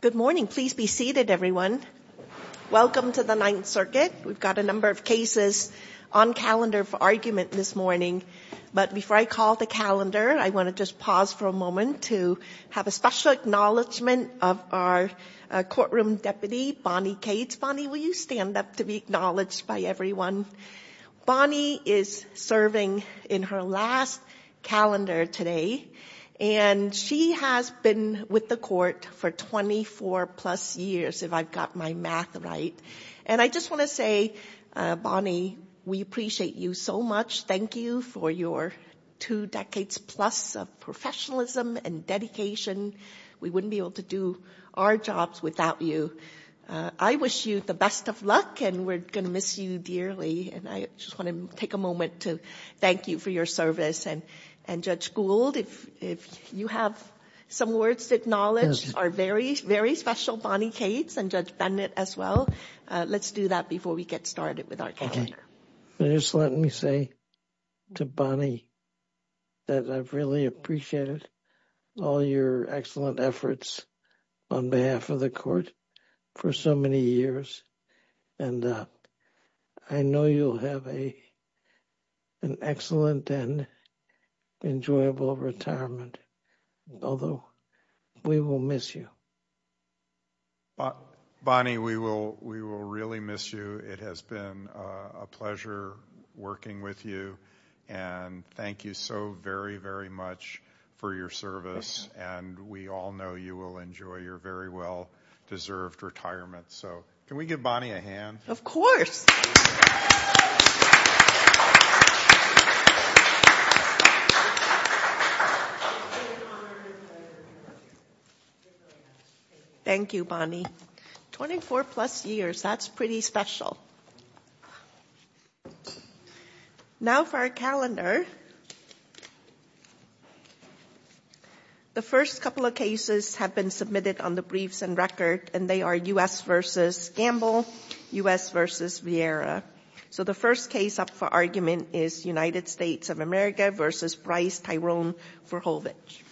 Good morning. Please be seated, everyone. Welcome to the Ninth Circuit. We've got a number of cases on calendar for argument this morning, but before I call the calendar, I want to just pause for a moment to have a special acknowledgement of our courtroom deputy, Bonnie Cades. Bonnie, will you stand up to be acknowledged by everyone? Bonnie is serving in her last calendar today, and she has been with the court for 24 plus years, if I've got my math right. And I just want to say, Bonnie, we appreciate you so much. Thank you for your two decades plus of professionalism and dedication. We wouldn't be able to do our jobs without you. And I wish you the best of luck, and we're going to miss you dearly. And I just want to take a moment to thank you for your service. And Judge Gould, if you have some words to acknowledge our very, very special Bonnie Cades and Judge Bennett as well, let's do that before we get started with our calendar. Just let me say to Bonnie that I've really appreciated all your excellent efforts on behalf of the court for so many years. And I know you'll have an excellent and enjoyable retirement, although we will miss you. Bonnie, we will really miss you. It has been a pleasure working with you. And thank you so very, very much for your service. And we all know you will enjoy your very well-deserved retirement. So can we give Bonnie a hand? Of course. Thank you, Bonnie. Twenty-four plus years, that's pretty special. Now for our calendar. The first couple of cases have been submitted on the briefs and record, and they are U.S. v. Gamble, U.S. v. Vieira. So the first case up for argument is United States of America v. Bryce Tyrone Forhovich. Thank you.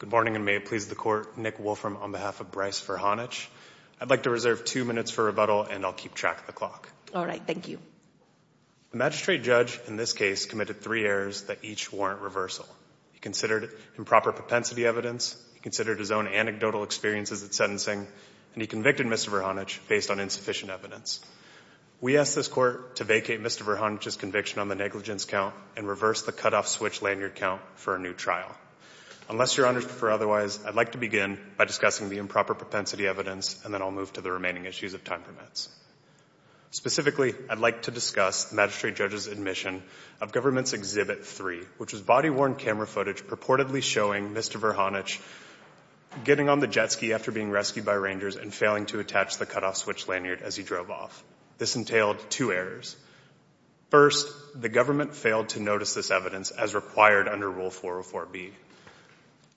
Good morning, and may it please the Court, Nick Wolfram on behalf of Bryce Forhovich. I'd like to reserve two minutes for rebuttal, and I'll keep track of the clock. All right. Thank you. The magistrate judge in this case committed three errors that each warrant reversal. He considered improper propensity evidence, he considered his own anecdotal experiences at sentencing, and he convicted Mr. Forhovich based on insufficient evidence. We ask this Court to vacate Mr. Forhovich's conviction on the negligence count and reverse the cutoff switch lanyard count for a new trial. Unless Your Honors prefer otherwise, I'd like to begin by discussing the improper propensity evidence, and then I'll move to the remaining issues if time permits. Specifically, I'd like to discuss the magistrate judge's admission of Government's Exhibit 3, which was body-worn camera footage purportedly showing Mr. Forhovich getting on the jet ski after being rescued by rangers and failing to attach the cutoff switch lanyard as he drove off. This entailed two errors. First, the government failed to notice this evidence as required under Rule 404B.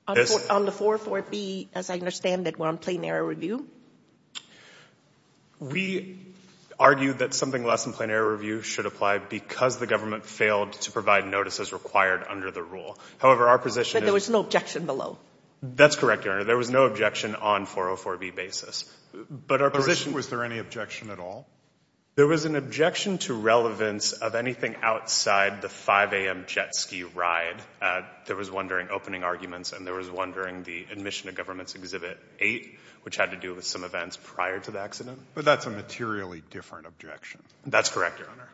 On the 404B, as I understand it, we're on plain error review? We argue that something less than plain error review should apply because the government failed to provide notice as required under the rule. However, our position is — But there was no objection below? That's correct, Your Honor. There was no objection on 404B basis. But our position — Was there any objection at all? There was an objection to relevance of anything outside the 5 a.m. jet ski ride. There was one during opening arguments and there was one during the admission of Government's Exhibit 8, which had to do with some events prior to the accident. But that's a materially different objection. That's correct, Your Honor.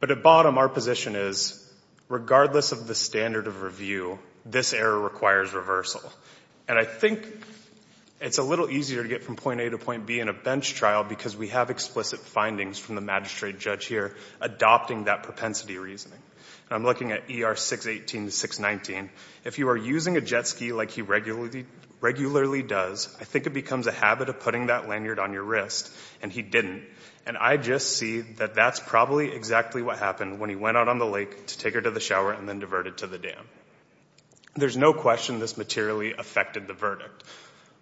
But at bottom, our position is, regardless of the standard of review, this error requires reversal. And I think it's a little easier to get from point A to point B in a bench trial because we have explicit findings from the magistrate judge here adopting that propensity reasoning. And I'm looking at ER 618 to 619. If you are using a jet ski like he regularly does, I think it becomes a habit of putting that lanyard on your wrist. And he didn't. And I just see that that's probably exactly what happened when he went out on the lake to take her to the shower and then diverted to the dam. There's no question this materially affected the verdict.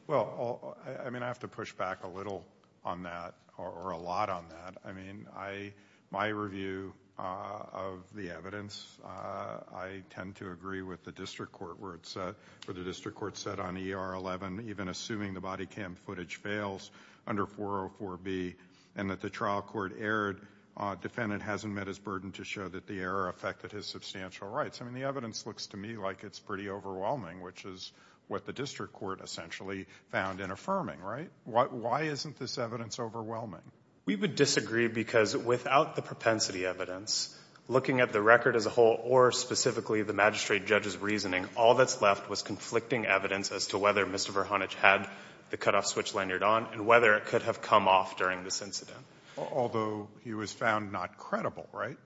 Well, I mean, I have to push back a little on that or a lot on that. I mean, my review of the evidence, I tend to agree with the district court where it said, where the district court said on ER 11, even assuming the body cam footage fails under 404B and that the trial court erred, defendant hasn't met his burden to show that the error affected his substantial rights. I mean, the evidence looks to me like it's pretty overwhelming, which is what the district court essentially found in affirming, right? Why isn't this evidence overwhelming? We would disagree because without the propensity evidence, looking at the record as a whole, or specifically the magistrate judge's reasoning, all that's left was conflicting evidence as to whether Mr. Virhanich had the cutoff switch lanyard on and whether it could have come off during this incident. Although he was found not credible, right?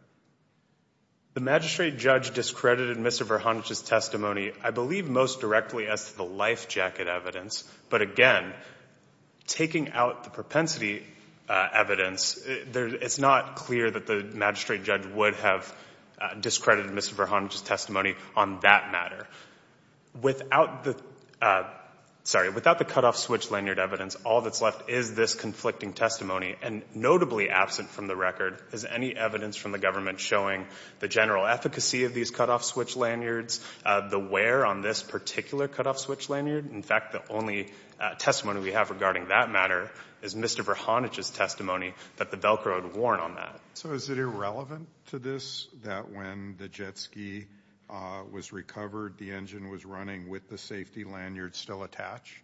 The magistrate judge discredited Mr. Virhanich's testimony, I believe, most directly as to the life jacket evidence. But again, taking out the propensity evidence, it's not clear that the magistrate judge would have discredited Mr. Virhanich's testimony on that matter. Without the cutoff switch lanyard evidence, all that's left is this conflicting testimony. And notably absent from the record is any evidence from the government showing the general efficacy of these cutoff switch lanyards, the wear on this particular cutoff switch lanyard. In fact, the only testimony we have regarding that matter is Mr. Virhanich's testimony that the Velcro had worn on that. So is it irrelevant to this that when the jet ski was recovered, the engine was running with the safety lanyard still attached?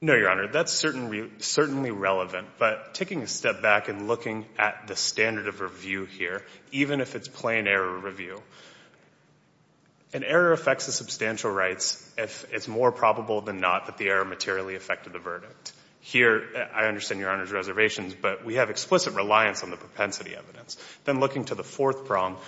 No, Your Honor. That's certainly relevant. But taking a step back and looking at the standard of review here, even if it's plain error review, an error affects the substantial rights if it's more probable than not that the error materially affected the verdict. Here, I understand Your Honor's reservations, but we have explicit reliance on the propensity evidence. Then looking to the fourth prong,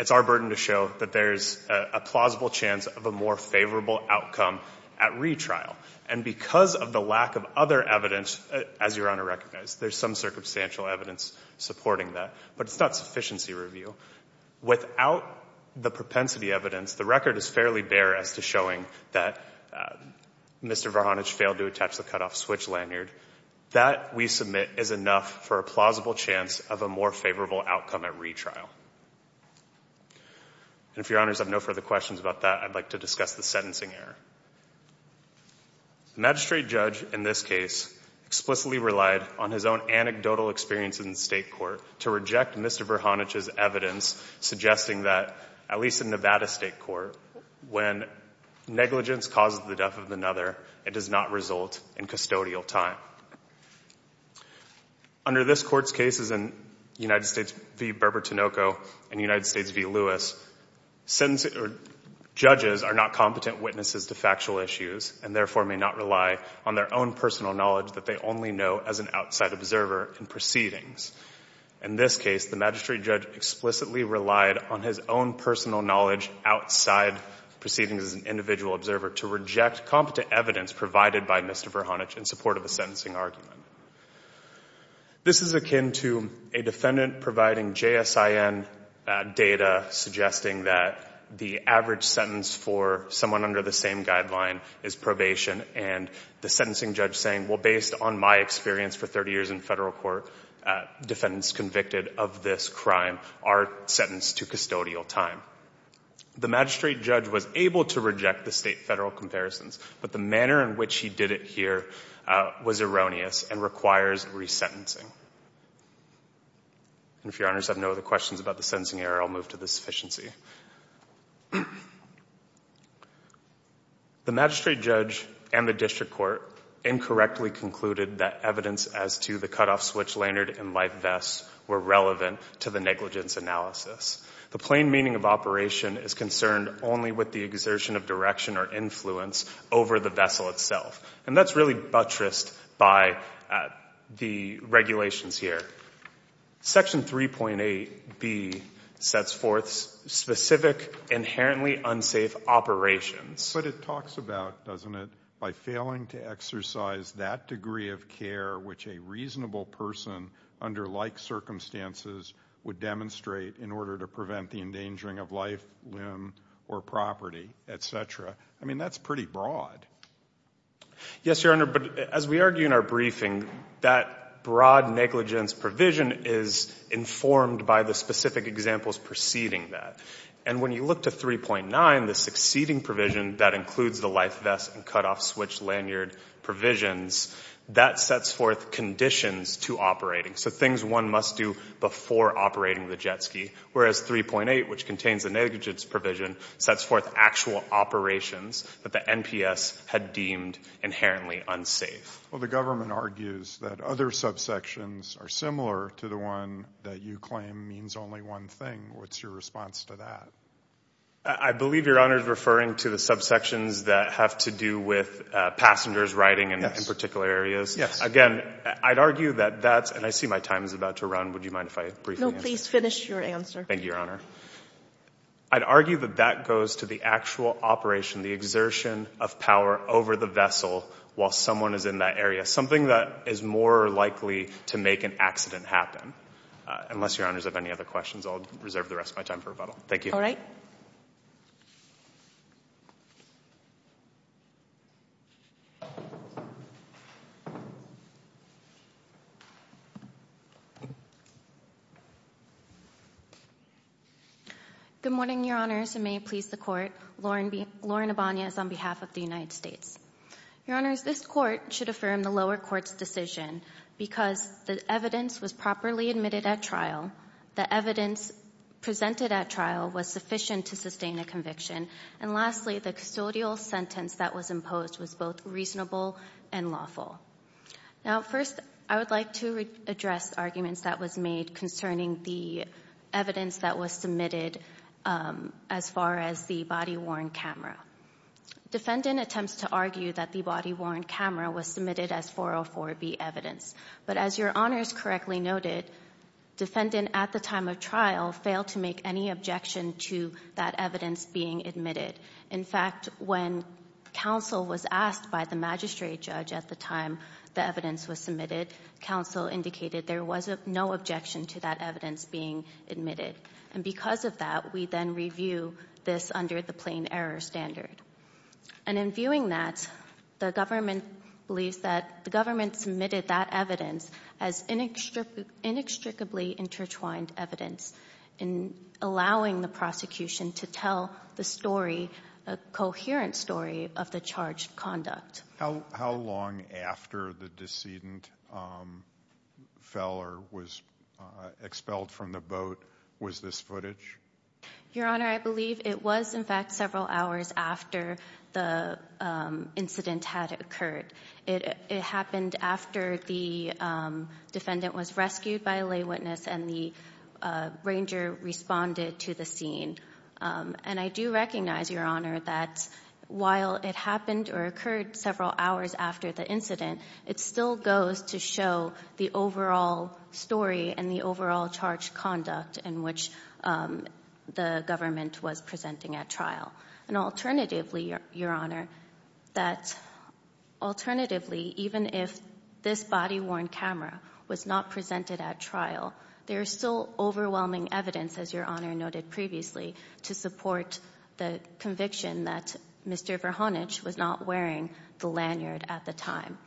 it's our burden to show that there's a plausible chance of a more favorable outcome at retrial. And because of the lack of other evidence, as Your Honor recognized, there's some circumstantial evidence supporting that. But it's not sufficiency review. Without the propensity evidence, the record is fairly bare as to showing that Mr. Virhanich failed to attach the cutoff switch lanyard. That, we submit, is enough for a plausible chance of a more favorable outcome at retrial. And if Your Honors have no further questions about that, I'd like to discuss the sentencing error. The magistrate judge in this case explicitly relied on his own anecdotal experience in the State Court to reject Mr. Virhanich's evidence suggesting that, at least in Nevada State Court, when negligence causes the death of another, it does not result in custodial time. Under this Court's cases in United States v. Berber-Tinoco and United States v. Lewis, judges are not competent witnesses to factual issues and therefore may not rely on their own personal knowledge that they only know as an outside observer in proceedings. In this case, the magistrate judge explicitly relied on his own personal knowledge outside proceedings as an individual observer to reject competent evidence provided by Mr. Virhanich in support of a sentencing argument. This is akin to a defendant providing JSIN data suggesting that the average sentence for someone under the same guideline is probation and the sentencing judge saying, well, based on my experience for 30 years in federal court, defendants convicted of this crime are sentenced to custodial time. The magistrate judge was able to reject the State-Federal comparisons, but the manner in which he did it here was erroneous and requires resentencing. And if your honors have no other questions about the sentencing error, I'll move to the sufficiency. The magistrate judge and the district court incorrectly concluded that evidence as to the cutoff switch lanyard and life vests were relevant to the negligence analysis. The plain meaning of operation is concerned only with the exertion of direction or influence over the vessel itself. And that's really buttressed by the regulations here. Section 3.8B sets forth specific inherently unsafe operations. But it talks about, doesn't it, by failing to exercise that degree of care which a reasonable person under like circumstances would demonstrate in order to prevent the endangering of life, limb, or property, et cetera. I mean, that's pretty broad. Yes, Your Honor, but as we argue in our briefing, that broad negligence provision is informed by the specific examples preceding that. And when you look to 3.9, the succeeding provision that includes the life vests and cutoff switch lanyard provisions, that sets forth conditions to operating. So things one must do before operating the jet ski. Whereas 3.8, which contains a negligence provision, sets forth actual operations that the NPS had deemed inherently unsafe. Well, the government argues that other subsections are similar to the one that you claim means only one thing. What's your response to that? I believe Your Honor is referring to the subsections that have to do with passengers riding in particular areas. Again, I'd argue that that's, and I see my time is about to run. Would you mind if I briefly answer? No, please finish your answer. Thank you, Your Honor. I'd argue that that goes to the actual operation, the exertion of power over the vessel while someone is in that area. Something that is more likely to make an accident happen. Unless Your Honors have any other questions, I'll reserve the rest of my time for rebuttal. Thank you. All right. Good morning, Your Honors, and may it please the Court. Lauren Abana is on behalf of the United States. Your Honors, this Court should affirm the lower court's decision because the evidence was properly admitted at trial, the evidence presented at trial was sufficient to sustain a conviction, and lastly, the custodial sentence that was imposed was both reasonable and lawful. Now, first, I would like to address arguments that was made concerning the evidence that was submitted as far as the body-worn camera. Defendant attempts to argue that the body-worn camera was submitted as 404B evidence, but as Your Honors correctly noted, defendant at the time of trial failed to make any objection to that evidence being admitted. In fact, when counsel was asked by the magistrate judge at the time the evidence was submitted, counsel indicated there was no objection to that evidence being admitted. And because of that, we then review this under the plain error standard. And in viewing that, the government believes that the government submitted that evidence as inextricably intertwined evidence in allowing the prosecution to tell the story, a coherent story, of the charged conduct. How long after the decedent fell or was expelled from the boat was this footage? Your Honor, I believe it was in fact several hours after the incident had occurred. It happened after the defendant was rescued by a lay witness and the ranger responded to the scene. And I do recognize, Your Honor, that while it happened or occurred several hours after the incident, it still goes to show the overall story and the overall charged conduct in which the government was presenting at trial. And alternatively, Your Honor, that alternatively, even if this body-worn camera was not presented at trial, there is still overwhelming evidence, as Your Honor noted previously, to support the conviction that Mr. Verhoenich was not wearing the lanyard at the time.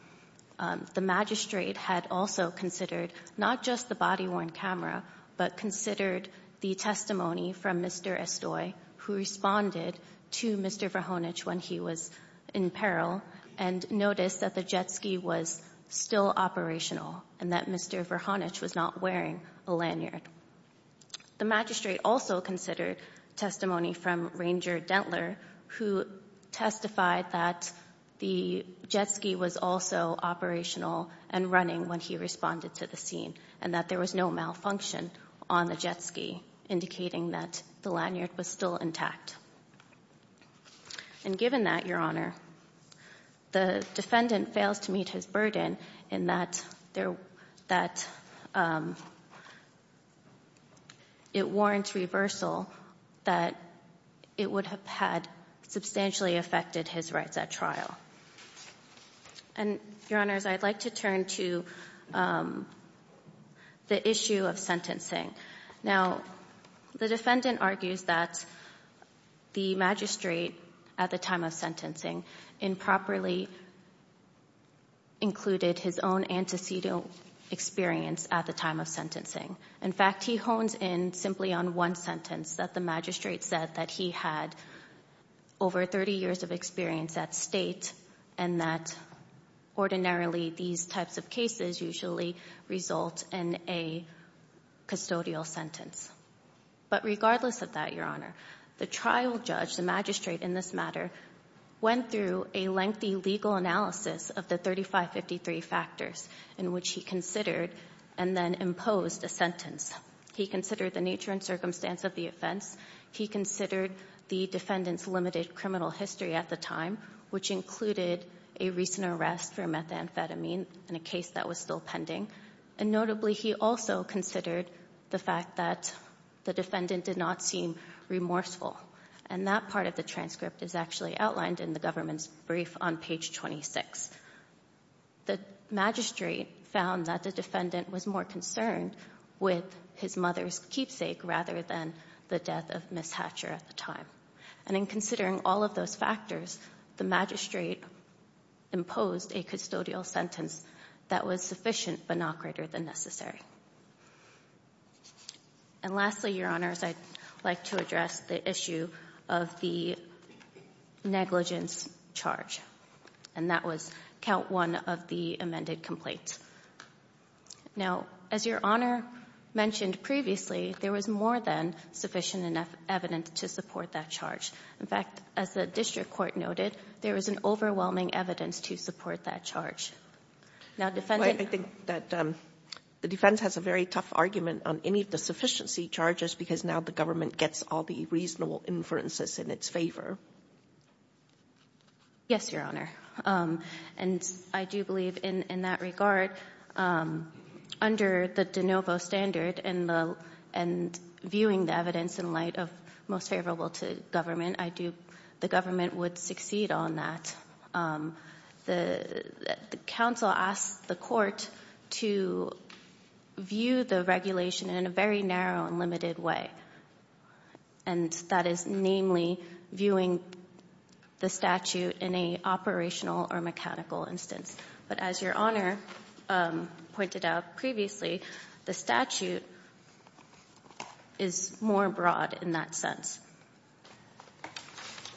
The magistrate had also considered not just the body-worn camera, but considered the testimony from Mr. Estoy who responded to Mr. Verhoenich when he was in peril and noticed that the jet ski was still operational and that Mr. Verhoenich was not wearing a lanyard. The magistrate also considered testimony from Ranger Dentler who testified that the jet ski was also operational and running when he responded to the scene and that there was no malfunction on the jet ski, indicating that the lanyard was still intact. And given that, Your Honor, the defendant fails to meet his burden in that it warrants reversal that it would have had substantially affected his rights at trial. And, Your Honors, I'd like to turn to the issue of sentencing. Now, the defendant argues that the magistrate, at the time of sentencing, improperly included his own antecedent experience at the time of sentencing. In fact, he hones in simply on one sentence, that the magistrate said that he had over 30 years of experience at State and that ordinarily these types of cases usually result in a custodial sentence. But regardless of that, Your Honor, the trial judge, the magistrate in this matter, went through a lengthy legal analysis of the 3553 factors in which he considered and then imposed a sentence. He considered the nature and circumstance of the offense. He considered the defendant's limited criminal history at the time, which included a recent arrest for methamphetamine in a case that was still pending. And notably, he also considered the fact that the defendant did not seem remorseful. And that part of the transcript is actually outlined in the government's brief on page 26. The magistrate found that the defendant was more concerned with his mother's keepsake rather than the death of Ms. Hatcher at the time. And in considering all of those factors, the magistrate imposed a custodial sentence that was sufficient but not greater than necessary. And lastly, Your Honors, I'd like to address the issue of the negligence charge. And that was count one of the amended complaints. Now, as Your Honor mentioned previously, there was more than sufficient enough evidence to support that charge. In fact, as the district court noted, there was an overwhelming evidence to support that charge. Now, defendant ---- Sotomayor, I think that the defense has a very tough argument on any of the sufficiency charges because now the government gets all the reasonable inferences in its favor. Yes, Your Honor. And I do believe in that regard, under the de novo standard and viewing the evidence in light of most favorable to government, I do ---- the government would succeed on that. The counsel asked the court to view the regulation in a very narrow and limited way. And that is namely viewing the statute in a operational or mechanical instance. But as Your Honor pointed out previously, the statute is more broad in that sense.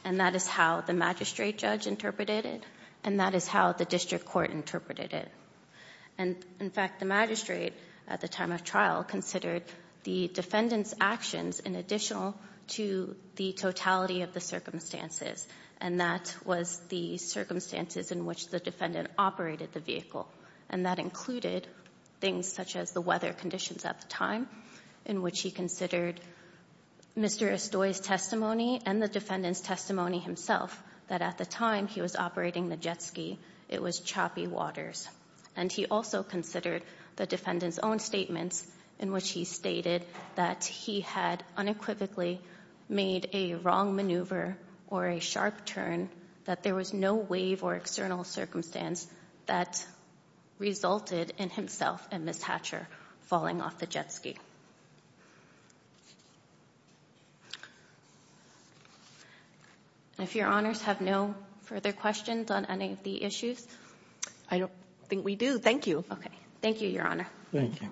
And that is how the magistrate judge interpreted it. And that is how the district court interpreted it. And in fact, the magistrate, at the time of trial, considered the defendant's actions in addition to the totality of the circumstances. And that was the circumstances in which the defendant operated the vehicle. And that included things such as the weather conditions at the time, in which he considered Mr. Estoy's testimony and the defendant's testimony himself, that at the time he was operating the jet ski, it was choppy waters. And he also considered the defendant's own statements in which he stated that he had unequivocally made a wrong maneuver or a sharp turn, that there was no wave or external circumstance that resulted in himself and Ms. Hatcher falling off the jet ski. Thank you. And if Your Honors have no further questions on any of the issues? I don't think we do. Thank you. Okay. Thank you, Your Honor. Thank you.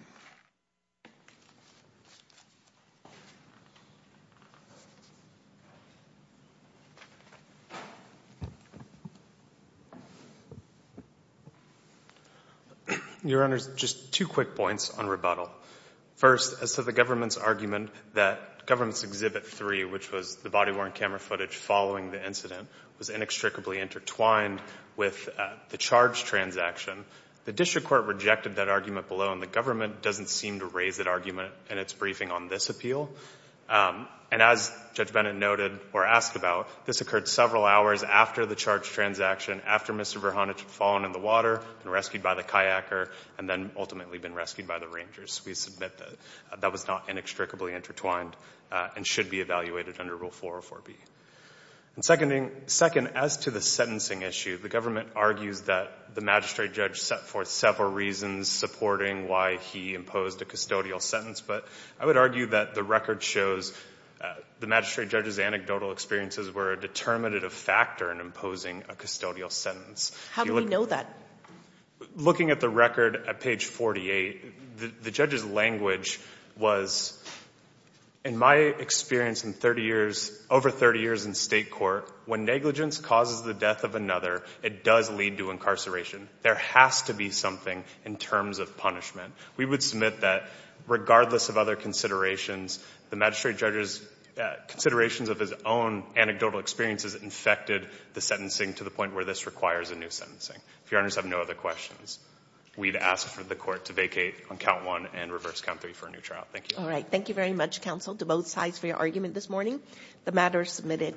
Your Honors, just two quick points on rebuttal. First, as to the government's argument that government's Exhibit 3, which was the body-worn camera footage following the incident, was inextricably intertwined with the charge transaction, the district court rejected that argument below, and the government doesn't seem to raise that argument in its briefing on this appeal. And as Judge Bennett noted or asked about, this occurred several hours after the charge transaction, after Mr. Virhanich had fallen in the water and rescued by the kayaker and then ultimately been rescued by the Rangers. We submit that that was not inextricably intertwined and should be evaluated under Rule 404B. And second, as to the sentencing issue, the government argues that the magistrate judge set forth several reasons supporting why he imposed a custodial sentence, but I would argue that the record shows the magistrate judge's anecdotal experiences were a determinative factor in imposing a custodial sentence. How do we know that? Looking at the record at page 48, the judge's language was, in my experience in 30 years, over 30 years in state court, when negligence causes the death of another, it does lead to incarceration. There has to be something in terms of punishment. We would submit that, regardless of other considerations, the magistrate judge's considerations of his own anecdotal experiences infected the sentencing to the point where this requires a new sentencing. If Your Honors have no other questions, we'd ask for the court to vacate on Count 1 and reverse Count 3 for a new trial. Thank you. All right. Thank you very much, counsel, to both sides for your argument this morning. The matter is submitted.